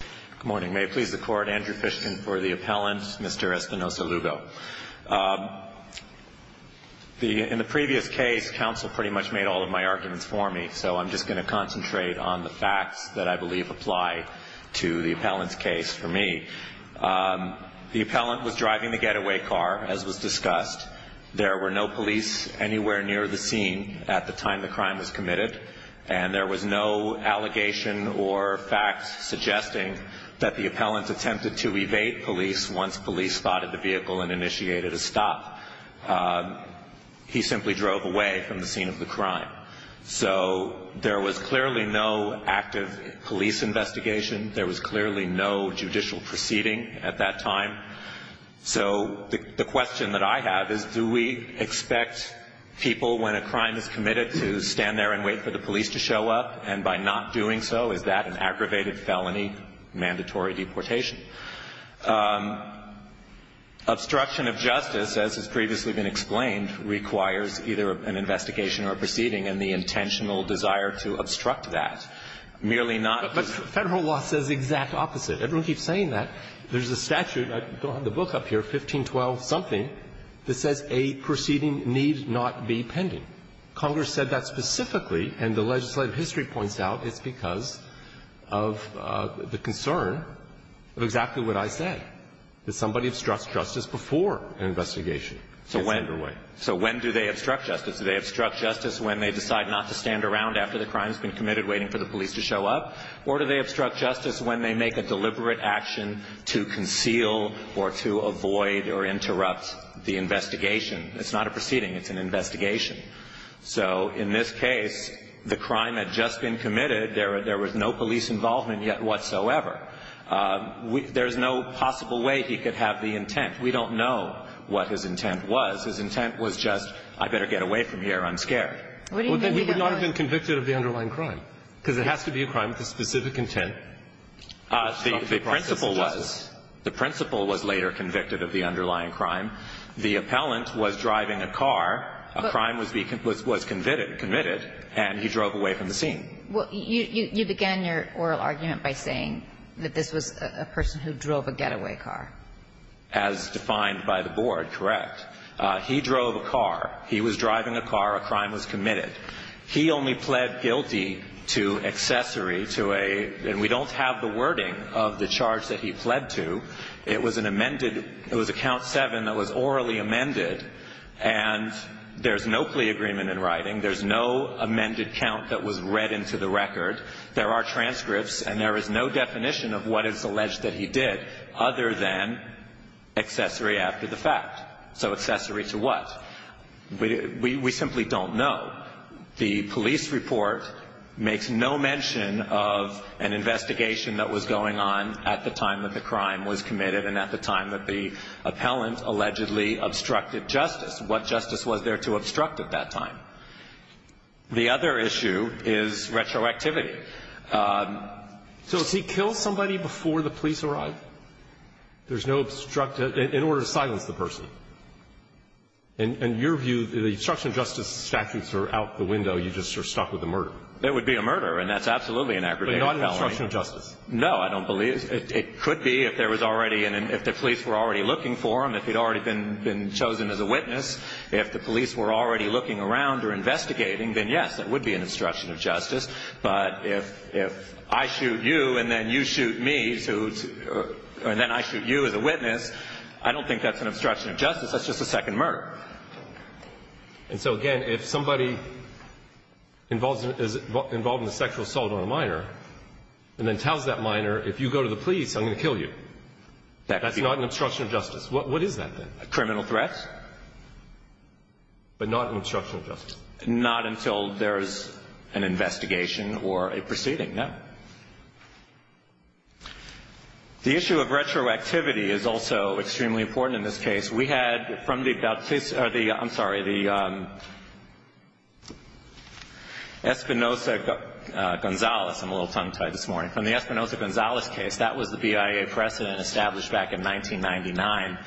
Good morning. May it please the Court, Andrew Fishkin for the appellant, Mr. Espinoza-Lugo. In the previous case, counsel pretty much made all of my arguments for me, so I'm just going to concentrate on the facts that I believe apply to the appellant's case for me. The appellant was driving the getaway car, as was discussed. There were no police anywhere near the scene at the time the crime was committed, and there was no allegation or fact suggesting that the appellant attempted to evade police once police spotted the vehicle and initiated a stop. He simply drove away from the scene of the crime. So there was clearly no active police investigation. There was clearly no judicial proceeding at that time. So the question that I have is, do we expect people, when a crime is committed, to stand there and wait for the police to show up, and by not doing so, is that an aggravated felony, mandatory deportation? Obstruction of justice, as has previously been explained, requires either an investigation or a proceeding and the intentional desire to obstruct that. Merely not the federal law says the exact opposite. Everyone keeps saying that. There's a statute, I don't have the book up here, 1512-something, that says a proceeding need not be pending. Congress said that specifically, and the legislative history points out it's because of the concern of exactly what I said, that somebody obstructs justice before an investigation gets underway. So when do they obstruct justice? Do they obstruct justice when they decide not to stand around after the crime has been committed, waiting for the police to show up? Or do they obstruct justice when they make a deliberate action to conceal or to avoid or interrupt the investigation? It's not a proceeding. It's an investigation. So in this case, the crime had just been committed. There was no police involvement yet whatsoever. There's no possible way he could have the intent. We don't know what his intent was. His intent was just, I better get away from here. I'm scared. We would not have been convicted of the underlying crime, because it has to be a crime with a specific intent. The principle was later convicted of the underlying crime. The appellant was driving a car. A crime was committed, and he drove away from the scene. You began your oral argument by saying that this was a person who drove a getaway car. As defined by the board, correct. He drove a car. He was driving a car. A crime was committed. He only pled guilty to accessory to a, and we don't have the wording of the charge that he pled to. It was an amended, it was a count seven that was orally amended, and there's no plea agreement in writing. There's no amended count that was read into the record. There are transcripts, and there is no definition of what is alleged that he did other than accessory after the fact. So accessory to what? We simply don't know. The police report makes no mention of an investigation that was going on at the time that the crime was committed and at the time that the appellant allegedly obstructed justice. What justice was there to obstruct at that time? The other issue is retroactivity. So does he kill somebody before the police arrive? There's no obstruct, in order to silence the person. In your view, the obstruction of justice statutes are out the window. You're just sort of stuck with the murder. It would be a murder, and that's absolutely an aggravated felony. But not an obstruction of justice. No, I don't believe. It could be if there was already an, if the police were already looking for him, if he'd already been chosen as a witness. If the police were already looking around or investigating, then, yes, it would be an obstruction of justice. But if I shoot you and then you shoot me, and then I shoot you as a witness, I don't think that's an obstruction of justice. That's just a second murder. And so, again, if somebody is involved in a sexual assault on a minor and then tells that minor, if you go to the police, I'm going to kill you, that's not an obstruction of justice. What is that, then? A criminal threat. But not an obstruction of justice. Not until there's an investigation or a proceeding, no. The issue of retroactivity is also extremely important in this case. We had, from the, I'm sorry, the Espinosa-Gonzalez, I'm a little tongue-tied this morning, from the Espinosa-Gonzalez case, that was the BIA precedent established back in 1999.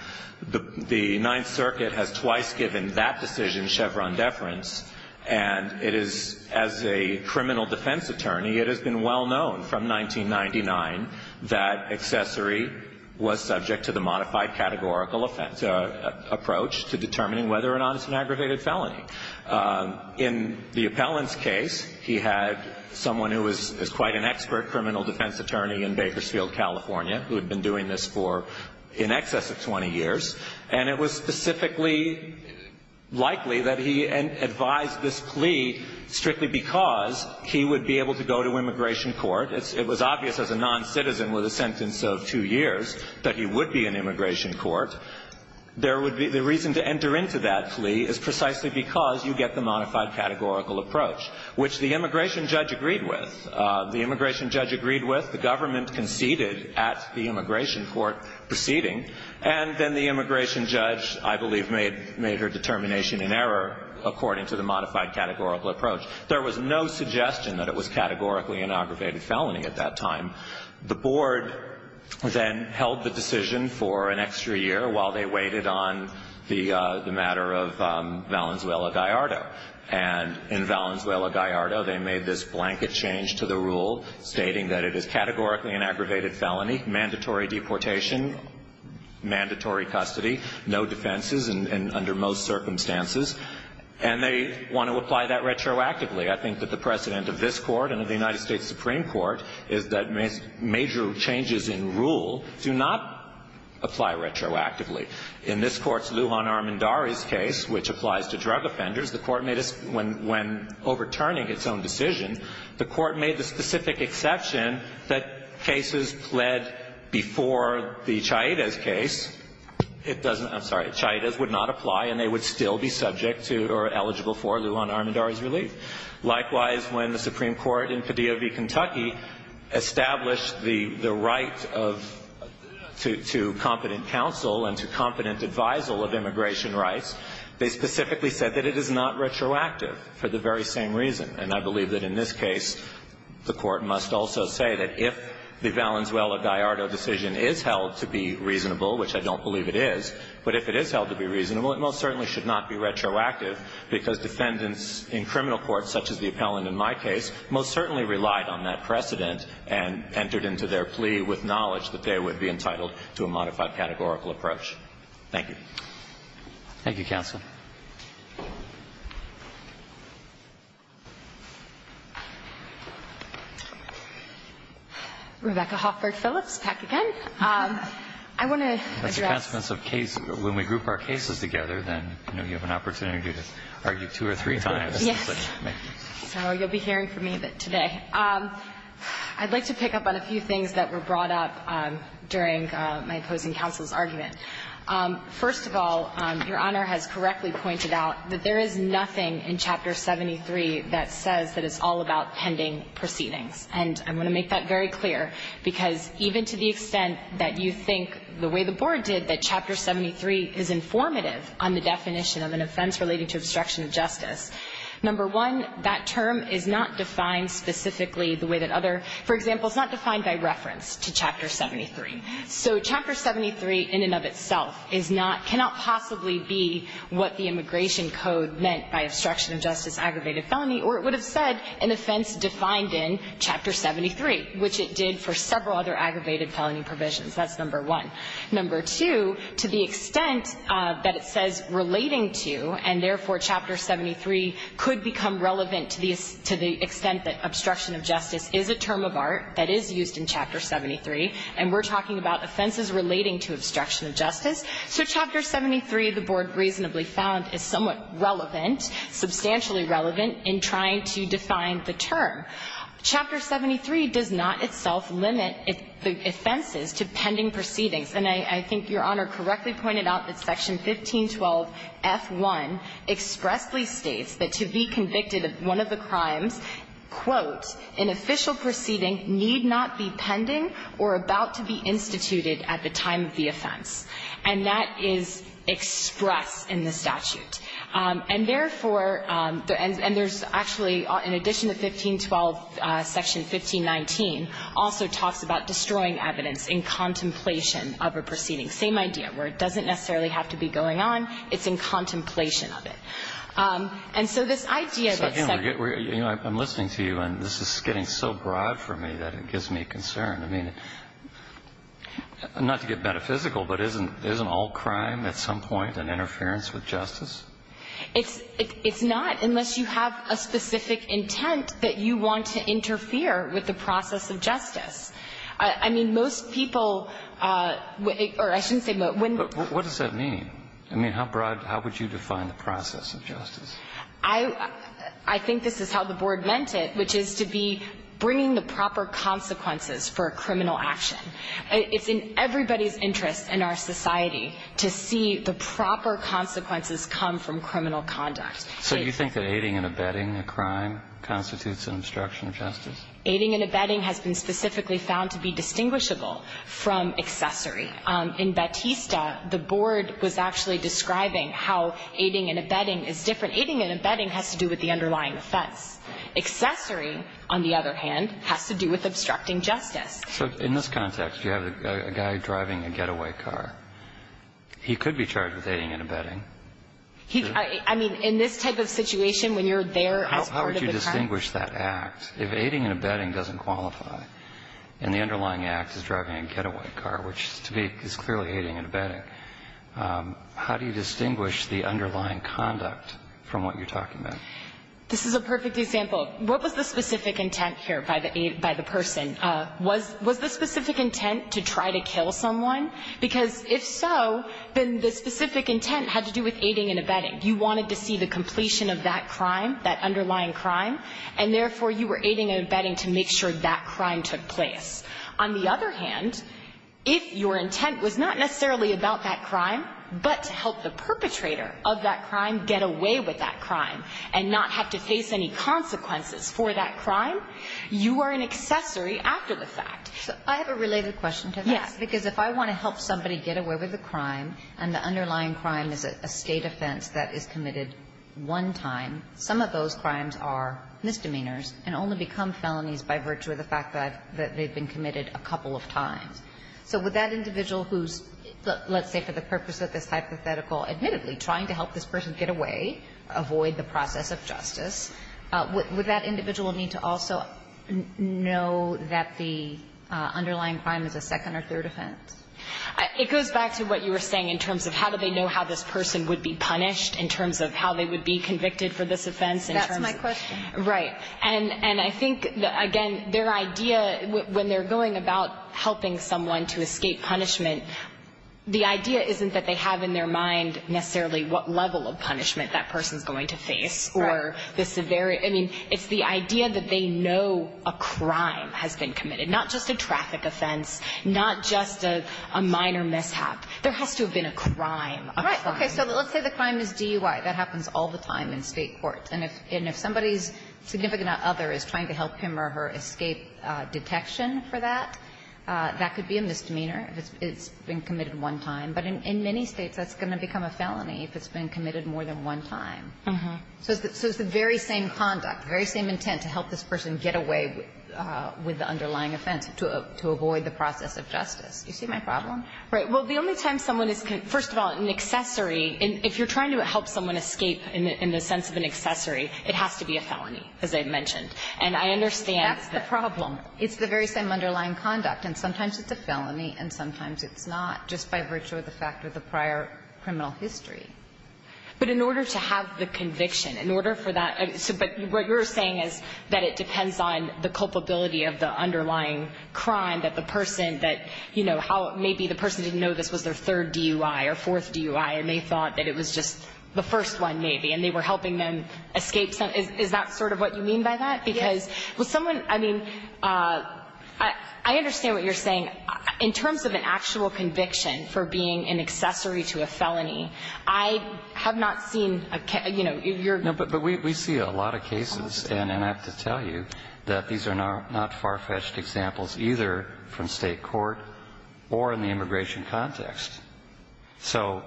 The Ninth Circuit has twice given that decision Chevron deference, and it is, as a known from 1999, that accessory was subject to the modified categorical offense approach to determining whether or not it's an aggravated felony. In the appellant's case, he had someone who was quite an expert criminal defense attorney in Bakersfield, California, who had been doing this for in excess of 20 years, and it was specifically likely that he advised this plea strictly because he would be able to go to immigration court. It was obvious as a noncitizen with a sentence of two years that he would be in immigration court. There would be the reason to enter into that plea is precisely because you get the modified categorical approach, which the immigration judge agreed with. The immigration judge agreed with, the government conceded at the immigration court proceeding, and then the immigration judge, I believe, made her determination in error according to the modified categorical approach. There was no suggestion that it was categorically an aggravated felony at that time. The board then held the decision for an extra year while they waited on the matter of Valenzuela-Gallardo. And in Valenzuela-Gallardo, they made this blanket change to the rule stating that it is categorically an aggravated felony, mandatory deportation, mandatory custody, no defenses under most circumstances. And they want to apply that retroactively. I think that the precedent of this Court and of the United States Supreme Court is that major changes in rule do not apply retroactively. In this Court's Lujan Armendariz case, which applies to drug offenders, the Court made a – when overturning its own decision, the Court made the specific exception that cases pled before the Chaidez case, it doesn't – I'm sorry, Chaidez would not apply and they would still be subject to or eligible for Lujan Armendariz relief. Likewise, when the Supreme Court in Padilla v. Kentucky established the right of – to competent counsel and to competent advisal of immigration rights, they specifically said that it is not retroactive for the very same reason. And I believe that in this case, the Court must also say that if the Valenzuela- Gallardo decision is held to be reasonable, which I don't believe it is, but if it is held to be reasonable, it most certainly should not be retroactive, because defendants in criminal courts, such as the appellant in my case, most certainly relied on that precedent and entered into their plea with knowledge that they would be entitled to a modified categorical approach. Roberts. Thank you, counsel. Rebecca Hoffert Phillips, PACAGEN. I want to address – That's a conference of case – when we group our cases together, then you know you have an opportunity to argue two or three times. Yes. So you'll be hearing from me today. I'd like to pick up on a few things that were brought up during my opposing counsel's argument. First of all, Your Honor has correctly pointed out that there is nothing in Chapter 73 that says that it's all about pending proceedings. And I want to make that very clear, because even to the extent that you think the way the Board did, that Chapter 73 is informative on the definition of an offense relating to obstruction of justice, number one, that term is not defined specifically the way that other – for example, it's not defined by reference to Chapter 73. So Chapter 73 in and of itself is not – cannot possibly be what the Immigration Code meant by obstruction of justice, aggravated felony, or it would have said an offense defined in Chapter 73, which it did for several other aggravated felony provisions. That's number one. Number two, to the extent that it says relating to, and therefore Chapter 73 could become relevant to the extent that obstruction of justice is a term of art that is used in Chapter 73, and we're talking about offenses relating to obstruction of justice, so Chapter 73, the Board reasonably found, is somewhat relevant, substantially relevant in trying to define the term. Chapter 73 does not itself limit the offenses to pending proceedings. And I think Your Honor correctly pointed out that Section 1512f1 expressly states that to be convicted of one of the crimes, quote, an official proceeding need not be pending or about to be instituted at the time of the offense. And that is expressed in the statute. And therefore – and there's actually, in addition to 1512, Section 1519 also talks about destroying evidence in contemplation of a proceeding, same idea, where it doesn't necessarily have to be going on, it's in contemplation of it. And so this idea that – So I'm listening to you, and this is getting so broad for me that it gives me concern. I mean, not to get metaphysical, but isn't all crime at some point an interference with justice? It's not, unless you have a specific intent that you want to interfere with the process of justice. I mean, most people – or I shouldn't say most. What does that mean? I mean, how broad – how would you define the process of justice? I – I think this is how the Board meant it, which is to be bringing the proper consequences for a criminal action. It's in everybody's interest in our society to see the proper consequences come from criminal conduct. So you think that aiding and abetting a crime constitutes an obstruction of justice? Aiding and abetting has been specifically found to be distinguishable from accessory. In Batista, the Board was actually describing how aiding and abetting is different. Aiding and abetting has to do with the underlying offense. Accessory, on the other hand, has to do with obstructing justice. So in this context, you have a guy driving a getaway car. He could be charged with aiding and abetting. He – I mean, in this type of situation, when you're there as part of the crime. How would you distinguish that act if aiding and abetting doesn't qualify, and the victim is clearly aiding and abetting? How do you distinguish the underlying conduct from what you're talking about? This is a perfect example. What was the specific intent here by the – by the person? Was – was the specific intent to try to kill someone? Because if so, then the specific intent had to do with aiding and abetting. You wanted to see the completion of that crime, that underlying crime, and therefore you were aiding and abetting to make sure that crime took place. On the other hand, if your intent was not necessarily about that crime, but to help the perpetrator of that crime get away with that crime and not have to face any consequences for that crime, you are an accessory after the fact. So I have a related question to that. Yes. Because if I want to help somebody get away with a crime and the underlying crime is a State offense that is committed one time, some of those crimes are misdemeanors and only become felonies by virtue of the fact that they've been committed a couple of times. So would that individual who's, let's say for the purpose of this hypothetical admittedly trying to help this person get away, avoid the process of justice, would that individual need to also know that the underlying crime is a second or third offense? It goes back to what you were saying in terms of how do they know how this person would be punished in terms of how they would be convicted for this offense. That's my question. Right. And I think, again, their idea when they're going about helping someone to escape punishment, the idea isn't that they have in their mind necessarily what level of punishment that person's going to face or the severity. I mean, it's the idea that they know a crime has been committed, not just a traffic offense, not just a minor mishap. There has to have been a crime. Right. Okay. So let's say the crime is DUI. That happens all the time in State courts. And if somebody's significant other is trying to help him or her escape detection for that, that could be a misdemeanor if it's been committed one time. But in many States that's going to become a felony if it's been committed more than one time. So it's the very same conduct, very same intent to help this person get away with the underlying offense, to avoid the process of justice. Do you see my problem? Right. Well, the only time someone is, first of all, an accessory, if you're trying to help someone escape in the sense of an accessory, it has to be a felony, as I mentioned. And I understand that. That's the problem. It's the very same underlying conduct. And sometimes it's a felony, and sometimes it's not, just by virtue of the fact of the prior criminal history. But in order to have the conviction, in order for that to be, what you're saying is that it depends on the culpability of the underlying crime, that the person that, you know, how maybe the person didn't know this was their third DUI or fourth DUI, and they thought that it was just the first one maybe, and they were helping them escape some. Is that sort of what you mean by that? Yes. Because someone, I mean, I understand what you're saying. In terms of an actual conviction for being an accessory to a felony, I have not seen a, you know, your ---- No, but we see a lot of cases, and I have to tell you that these are not far-fetched examples either from State court or in the immigration context. So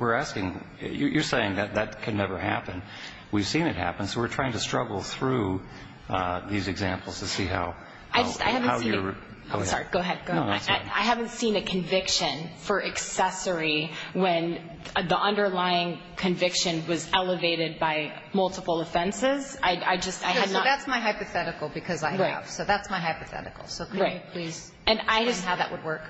we're asking, you're saying that that can never happen. We've seen it happen, so we're trying to struggle through these examples to see how I haven't seen it. I'm sorry. Go ahead. Go ahead. No, that's fine. I haven't seen a conviction for accessory when the underlying conviction was elevated by multiple offenses. I just, I have not ---- So that's my hypothetical, because I have. Right. So that's my hypothetical. Right. So could you please explain how that would work?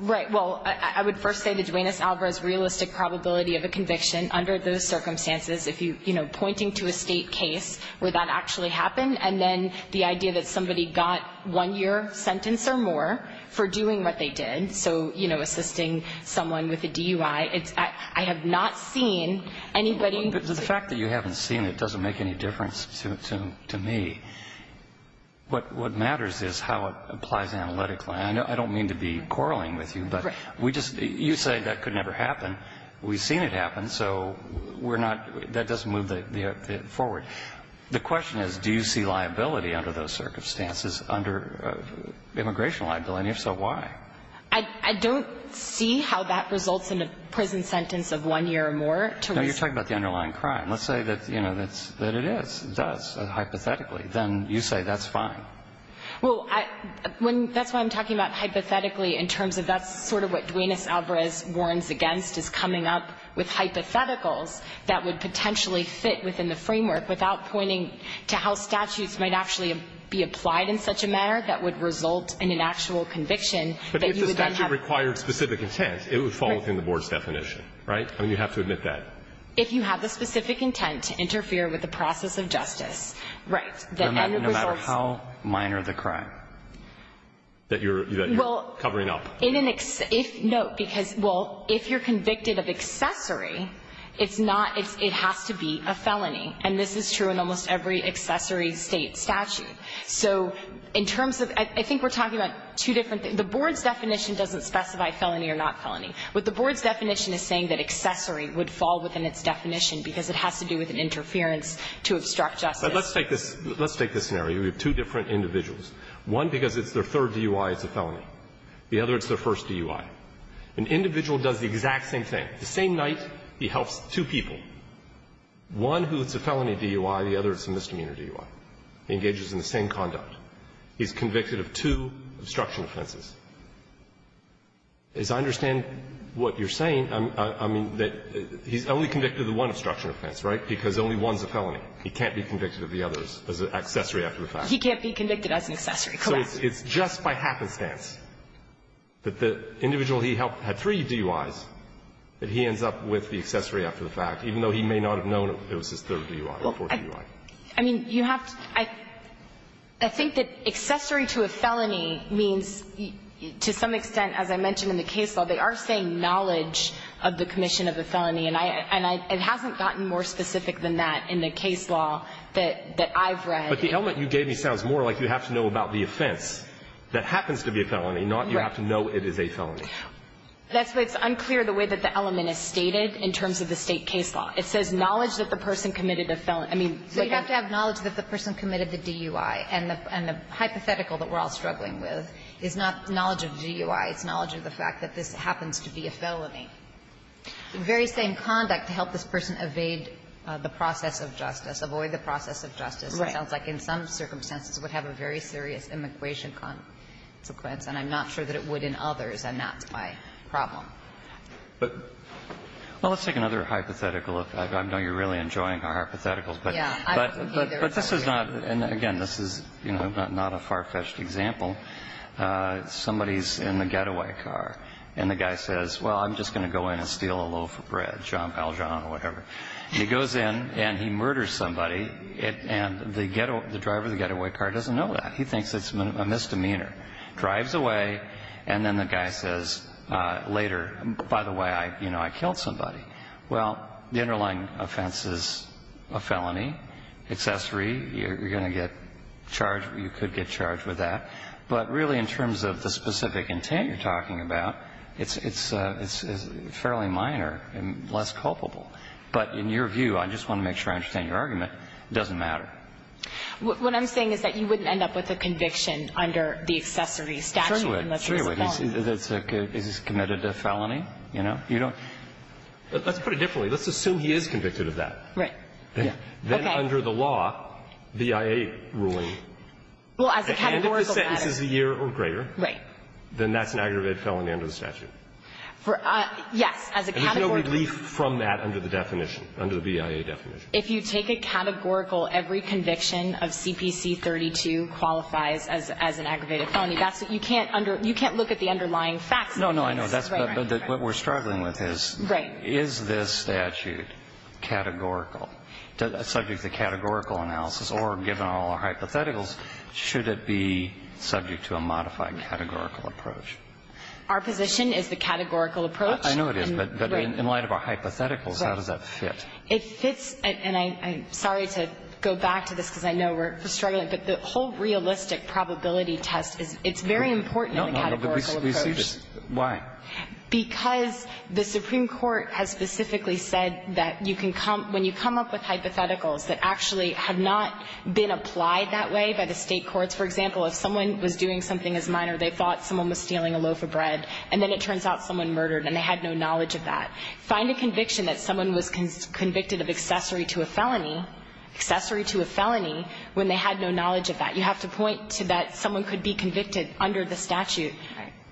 Right. Well, I would first say that Duenas-Alvarez's realistic probability of a conviction under those circumstances, if you, you know, pointing to a State case where that actually happened, and then the idea that somebody got one year sentence or more for doing what they did, so, you know, assisting someone with a DUI, it's, I have not seen anybody ---- But the fact that you haven't seen it doesn't make any difference to me. What matters is how it applies analytically. I don't mean to be quarreling with you, but we just ---- Right. You say that could never happen. We've seen it happen, so we're not ---- that doesn't move the forward. The question is, do you see liability under those circumstances, under immigration liability? And if so, why? I don't see how that results in a prison sentence of one year or more. No, you're talking about the underlying crime. Let's say that, you know, that it is, it does, hypothetically. Then you say that's fine. Well, when, that's why I'm talking about hypothetically in terms of that's sort of what Duenas-Alvarez warns against is coming up with hypotheticals that would potentially fit within the framework without pointing to how statutes might actually be applied in such a manner that would result in an actual conviction that you would then have ---- But if the statute required specific intent, it would fall within the board's definition, right? I mean, you have to admit that. If you have the specific intent to interfere with the process of justice, right, the end result is ---- No matter how minor the crime that you're covering up. Well, in an, no, because, well, if you're convicted of accessory, it's not, it has to be a felony. And this is true in almost every accessory state statute. So in terms of, I think we're talking about two different things. The board's definition doesn't specify felony or not felony. But the board's definition is saying that accessory would fall within its definition because it has to do with an interference to obstruct justice. Let's take this scenario. We have two different individuals. One, because it's their third DUI, it's a felony. The other, it's their first DUI. An individual does the exact same thing. The same night, he helps two people, one who is a felony DUI, the other is a misdemeanor DUI. He engages in the same conduct. He's convicted of two obstruction offenses. As I understand what you're saying, I mean, that he's only convicted of one obstruction offense, right? Because only one's a felony. He can't be convicted of the others as an accessory after the fact. He can't be convicted as an accessory. Correct. So it's just by happenstance that the individual he helped had three DUIs, that he ends up with the accessory after the fact, even though he may not have known it was his third DUI or fourth DUI. Well, I mean, you have to – I think that accessory to a felony means to some extent, as I mentioned in the case law, they are saying knowledge of the commission of the felony. And it hasn't gotten more specific than that in the case law that I've read. But the element you gave me sounds more like you have to know about the offense that happens to be a felony, not you have to know it is a felony. Right. That's why it's unclear the way that the element is stated in terms of the State case law. It says knowledge that the person committed a felony. So you have to have knowledge that the person committed the DUI. And the hypothetical that we're all struggling with is not knowledge of DUI. It's knowledge of the fact that this happens to be a felony. The very same conduct to help this person evade the process of justice, avoid the process of justice, it sounds like in some circumstances would have a very serious immigration consequence, and I'm not sure that it would in others, and that's my problem. But let's take another hypothetical. I know you're really enjoying our hypotheticals. Yeah. But this is not – and again, this is, you know, not a far-fetched example. Somebody's in the getaway car, and the guy says, well, I'm just going to go in and steal a loaf of bread, Jean Valjean or whatever. And he goes in and he murders somebody, and the driver of the getaway car doesn't know that. He thinks it's a misdemeanor. Drives away, and then the guy says later, by the way, you know, I killed somebody. Well, the underlying offense is a felony, accessory. You're going to get charged – you could get charged with that. But really in terms of the specific intent you're talking about, it's fairly minor and less culpable. But in your view, I just want to make sure I understand your argument, it doesn't matter. What I'm saying is that you wouldn't end up with a conviction under the accessory statute unless it's a felony. Sure you would. Sure you would. Is he committed a felony? You know? You don't – Let's put it differently. Let's assume he is convicted of that. Right. Yeah. Okay. Then under the law, the I.A. ruling. Well, as a categorical matter – And if the sentence is a year or greater. Right. Then that's an aggravated felony under the statute. Yes. As a categorical – And there's no relief from that under the definition, under the BIA definition. If you take a categorical, every conviction of CPC 32 qualifies as an aggravated felony, that's – you can't under – you can't look at the underlying facts of the case. No, no, I know. That's what we're struggling with is – Right. I'm trying to see if this is subject to the categorical. Is it subject to categorical analysis? Or given all our hypotheticals, should it be subject to a modified categorical approach? Our position is the categorical approach. I know it is. But in light of our hypotheticals, how does that fit? It fits – and I'm sorry to go back to this, because I know we're struggling, approach. Why? Because the Supreme Court has specifically said that you can come – when you come up with hypotheticals that actually have not been applied that way by the State courts. For example, if someone was doing something as minor, they thought someone was stealing a loaf of bread, and then it turns out someone murdered and they had no knowledge of that. Find a conviction that someone was convicted of accessory to a felony – accessory to a felony – when they had no knowledge of that. You have to point to that someone could be convicted under the statute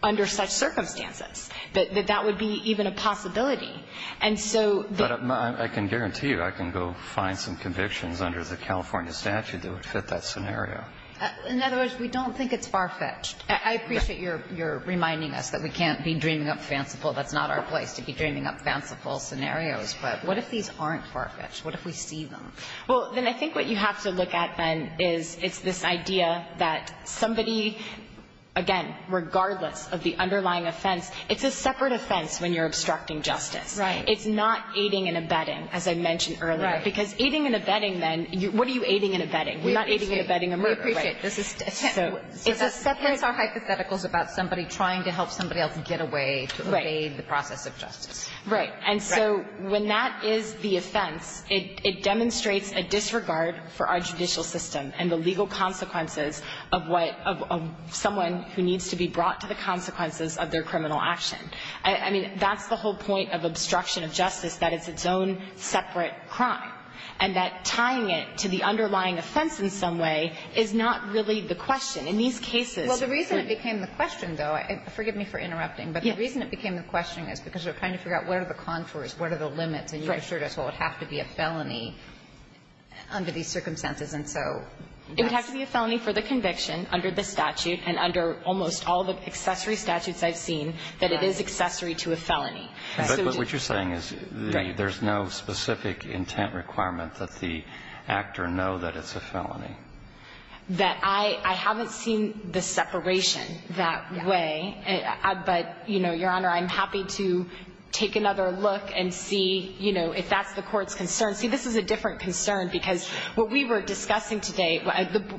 under such circumstances, that that would be even a possibility. And so the – But I can guarantee you I can go find some convictions under the California statute that would fit that scenario. In other words, we don't think it's far-fetched. I appreciate your reminding us that we can't be dreaming up fanciful – that's not our place to be dreaming up fanciful scenarios. But what if these aren't far-fetched? What if we see them? Well, then I think what you have to look at, then, is it's this idea that somebody – again, regardless of the underlying offense, it's a separate offense when you're obstructing justice. Right. It's not aiding and abetting, as I mentioned earlier. Right. Because aiding and abetting, then – what are you aiding and abetting? We're not aiding and abetting a murder. We appreciate this. So it's a separate – So that's – that's our hypotheticals about somebody trying to help somebody else get away to obey the process of justice. Right. And so when that is the offense, it demonstrates a disregard for our judicial system and the legal consequences of what – of someone who needs to be brought to the consequences of their criminal action. I mean, that's the whole point of obstruction of justice, that it's its own separate crime. And that tying it to the underlying offense in some way is not really the question. In these cases – But the reason it became the question is because we're trying to figure out what are the contours, what are the limits, and you assured us, well, it would have to be a felony under these circumstances. And so that's – It would have to be a felony for the conviction under the statute and under almost all the accessory statutes I've seen that it is accessory to a felony. Right. But what you're saying is there's no specific intent requirement that the actor know that it's a felony. That I haven't seen the separation that way. But, you know, Your Honor, I'm happy to take another look and see, you know, if that's the Court's concern. See, this is a different concern because what we were discussing today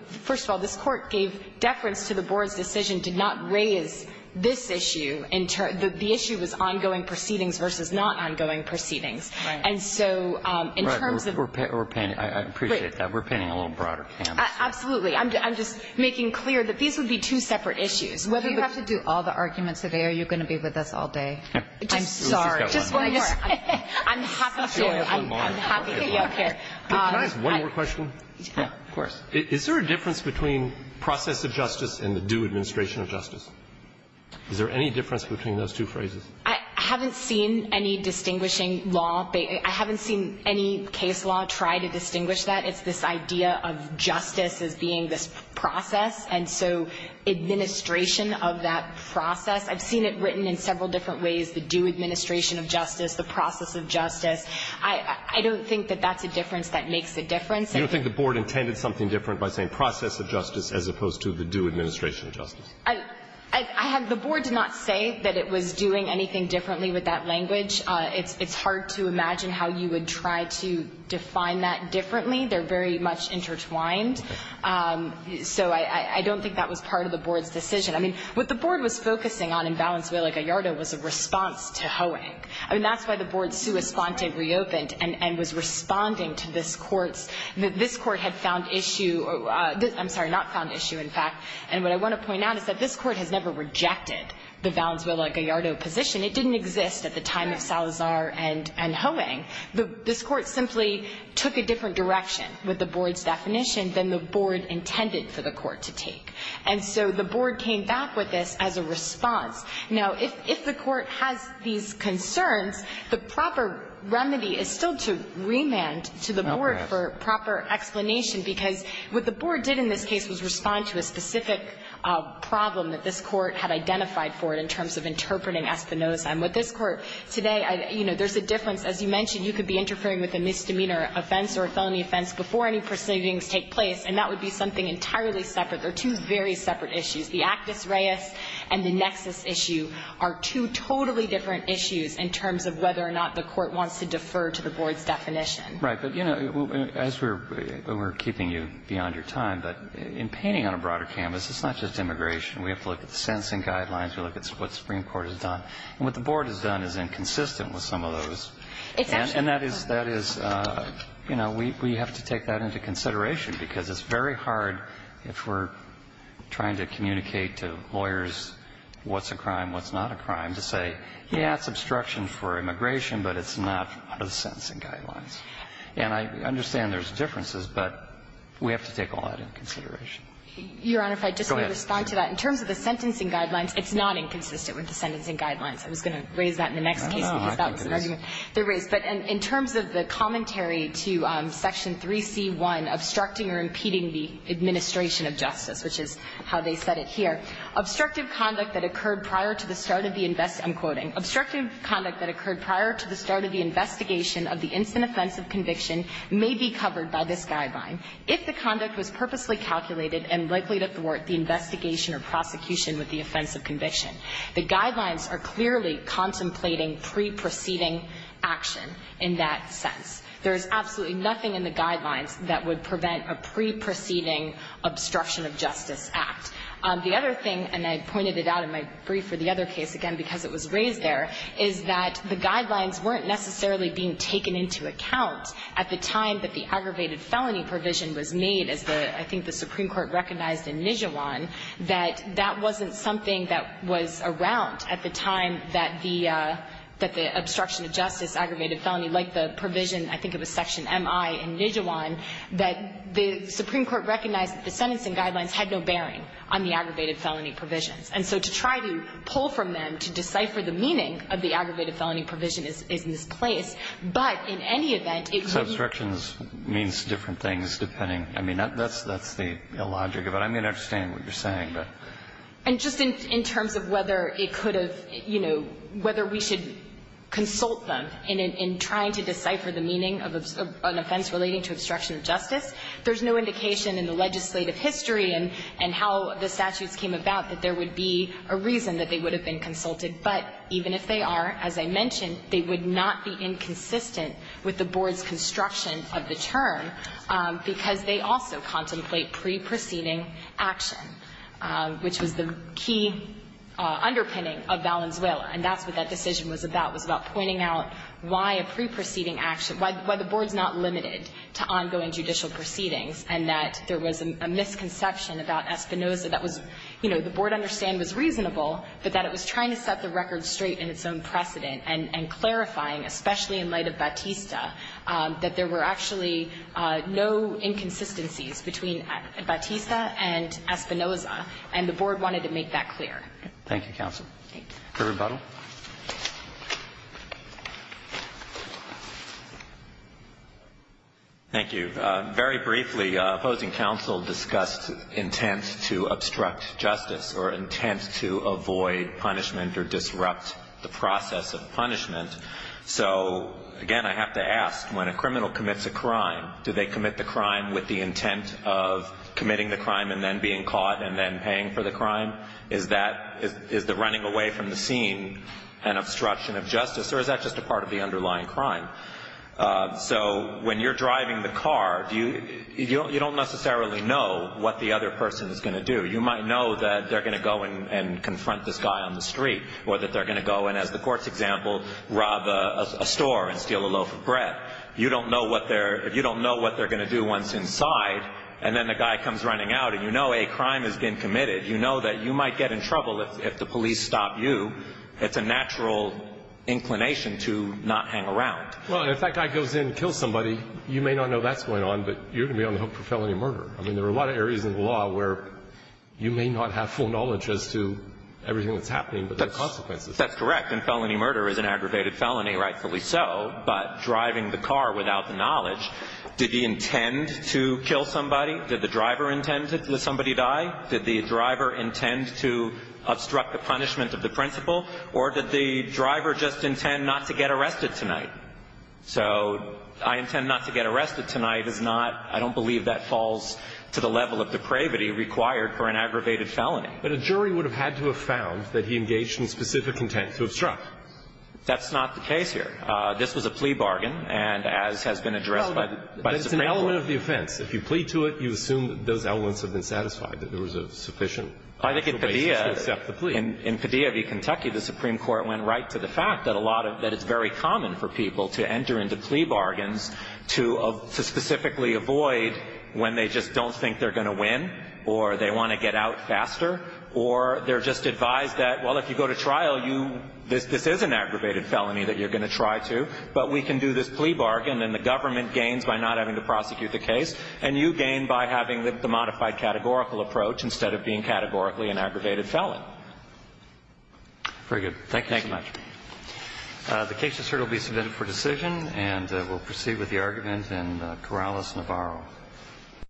– first of all, this Court gave deference to the Board's decision to not raise this issue in – the issue was ongoing proceedings versus not ongoing proceedings. Right. And so in terms of – Right. We're paying – I appreciate that. We're paying a little broader camp. Absolutely. I'm just making clear that these would be two separate issues. You have to do all the arguments today or you're going to be with us all day. I'm sorry. Just one more. I'm happy to. I'm happy to. Can I ask one more question? Of course. Is there a difference between process of justice and the due administration of justice? Is there any difference between those two phrases? I haven't seen any distinguishing law. I haven't seen any case law try to distinguish that. It's this idea of justice as being this process, and so administration of that process. I've seen it written in several different ways, the due administration of justice, the process of justice. I don't think that that's a difference that makes a difference. You don't think the Board intended something different by saying process of justice as opposed to the due administration of justice? I have – the Board did not say that it was doing anything differently with that language. It's hard to imagine how you would try to define that differently. They're very much intertwined. So I don't think that was part of the Board's decision. I mean, what the Board was focusing on in Valenzuela-Gallardo was a response to Hoeing. I mean, that's why the Board sua sponte reopened and was responding to this Court's – this Court had found issue – I'm sorry, not found issue, in fact. And what I want to point out is that this Court has never rejected the Valenzuela-Gallardo position. It didn't exist at the time of Salazar and Hoeing. This Court simply took a different direction with the Board's definition than the Board intended for the Court to take. And so the Board came back with this as a response. Now, if the Court has these concerns, the proper remedy is still to remand to the Board for proper explanation, because what the Board did in this case was respond to a specific problem that this Court had identified for it in terms of interpreting Espinoza. And with this Court today, you know, there's a difference. As you mentioned, you could be interfering with a misdemeanor offense or a felony offense before any proceedings take place, and that would be something entirely separate. They're two very separate issues. The actus reus and the nexus issue are two totally different issues in terms of whether or not the Court wants to defer to the Board's definition. Right. But, you know, as we're keeping you beyond your time, but in painting on a broader canvas, it's not just immigration. We have to look at the sensing guidelines. We look at what the Supreme Court has done. And what the Board has done is inconsistent with some of those. And that is, that is, you know, we have to take that into consideration, because it's very hard if we're trying to communicate to lawyers what's a crime, what's not a crime, to say, yes, it's obstruction for immigration, but it's not under the sentencing guidelines. And I understand there's differences, but we have to take all that into consideration. Go ahead. Your Honor, if I could just respond to that. In terms of the sentencing guidelines, it's not inconsistent with the sentencing guidelines. I was going to raise that in the next case, because that was an argument that was raised. But in terms of the commentary to Section 3c.1, obstructing or impeding the administration of justice, which is how they said it here, Obstructive conduct that occurred prior to the start of the invest --" I'm quoting --"obstructive conduct that occurred prior to the start of the investigation of the instant offense of conviction may be covered by this guideline. If the conduct was purposely calculated and likely to thwart the investigation or prosecution with the offense of conviction, the guidelines are clearly contemplating pre-proceeding action in that sense. There is absolutely nothing in the guidelines that would prevent a pre-proceeding obstruction of justice act. The other thing, and I pointed it out in my brief for the other case, again, because it was raised there, is that the guidelines weren't necessarily being taken into account at the time that the aggravated felony provision was made, as I think the Supreme Court recognized in Nijiwan, that that wasn't something that was around at the time that the obstruction of justice aggravated felony, like the provision I think it was Section MI in Nijiwan, that the Supreme Court recognized that the sentencing guidelines had no bearing on the aggravated felony provisions. And so to try to pull from them, to decipher the meaning of the aggravated felony provision is in this place. But in any event, it would be the case that the statute would have been consulted And so I think that's the logic of it. I mean, I understand what you're saying, but. And just in terms of whether it could have, you know, whether we should consult them in trying to decipher the meaning of an offense relating to obstruction of justice, there's no indication in the legislative history and how the statutes came about that there would be a reason that they would have been consulted. But even if they are, as I mentioned, they would not be inconsistent with the board's construction of the term, because they also contemplate pre-proceeding action, which was the key underpinning of Valenzuela. And that's what that decision was about, was about pointing out why a pre-proceeding action, why the board's not limited to ongoing judicial proceedings, and that there was a misconception about Espinoza that was, you know, the board understand was reasonable, but that it was trying to set the record straight in its own precedent and clarifying, especially in light of Batista, that there were actually no inconsistencies between Batista and Espinoza, and the board wanted to make that clear. Thank you, counsel. For rebuttal. Thank you. Very briefly, opposing counsel discussed intent to obstruct justice or intent to avoid punishment or disrupt the process of punishment. So, again, I have to ask, when a criminal commits a crime, do they commit the crime with the intent of committing the crime and then being caught and then paying for the crime? Is that the running away from the scene an obstruction of justice, or is that just a part of the underlying crime? So when you're driving the car, you don't necessarily know what the other person is going to do. You might know that they're going to go and confront this guy on the street, or that they're going to go and, as the court's example, rob a store and steal a loaf of bread. You don't know what they're going to do once inside, and then the guy comes running out, and you know a crime has been committed. You know that you might get in trouble if the police stop you. It's a natural inclination to not hang around. Well, and if that guy goes in and kills somebody, you may not know that's going on, but you're going to be on the hook for felony murder. I mean, there are a lot of areas in the law where you may not have full knowledge as to everything that's happening, but there are consequences. That's correct. And felony murder is an aggravated felony, rightfully so. But driving the car without the knowledge, did he intend to kill somebody? Did the driver intend to let somebody die? Did the driver intend to obstruct the punishment of the principal, or did the driver just intend not to get arrested tonight? So I intend not to get arrested tonight is not – I don't believe that falls to the level of depravity required for an aggravated felony. But a jury would have had to have found that he engaged in specific intent to obstruct. That's not the case here. This was a plea bargain, and as has been addressed by the Supreme Court. No, but it's an element of the offense. If you plead to it, you assume that those elements have been satisfied, that there was a sufficient basis to accept the plea. I think in Padilla v. Kentucky, the Supreme Court went right to the fact that a lot of – that it's very common for people to enter into plea bargains to specifically avoid when they just don't think they're going to win or they want to get out faster or they're just advised that, well, if you go to trial, this is an aggravated felony that you're going to try to, but we can do this plea bargain and the government gains by not having to prosecute the case and you gain by having the modified categorical approach instead of being categorically an aggravated felon. Very good. Thank you so much. Thank you. The case is here to be submitted for decision, and we'll proceed with the argument in Corrales-Navarro.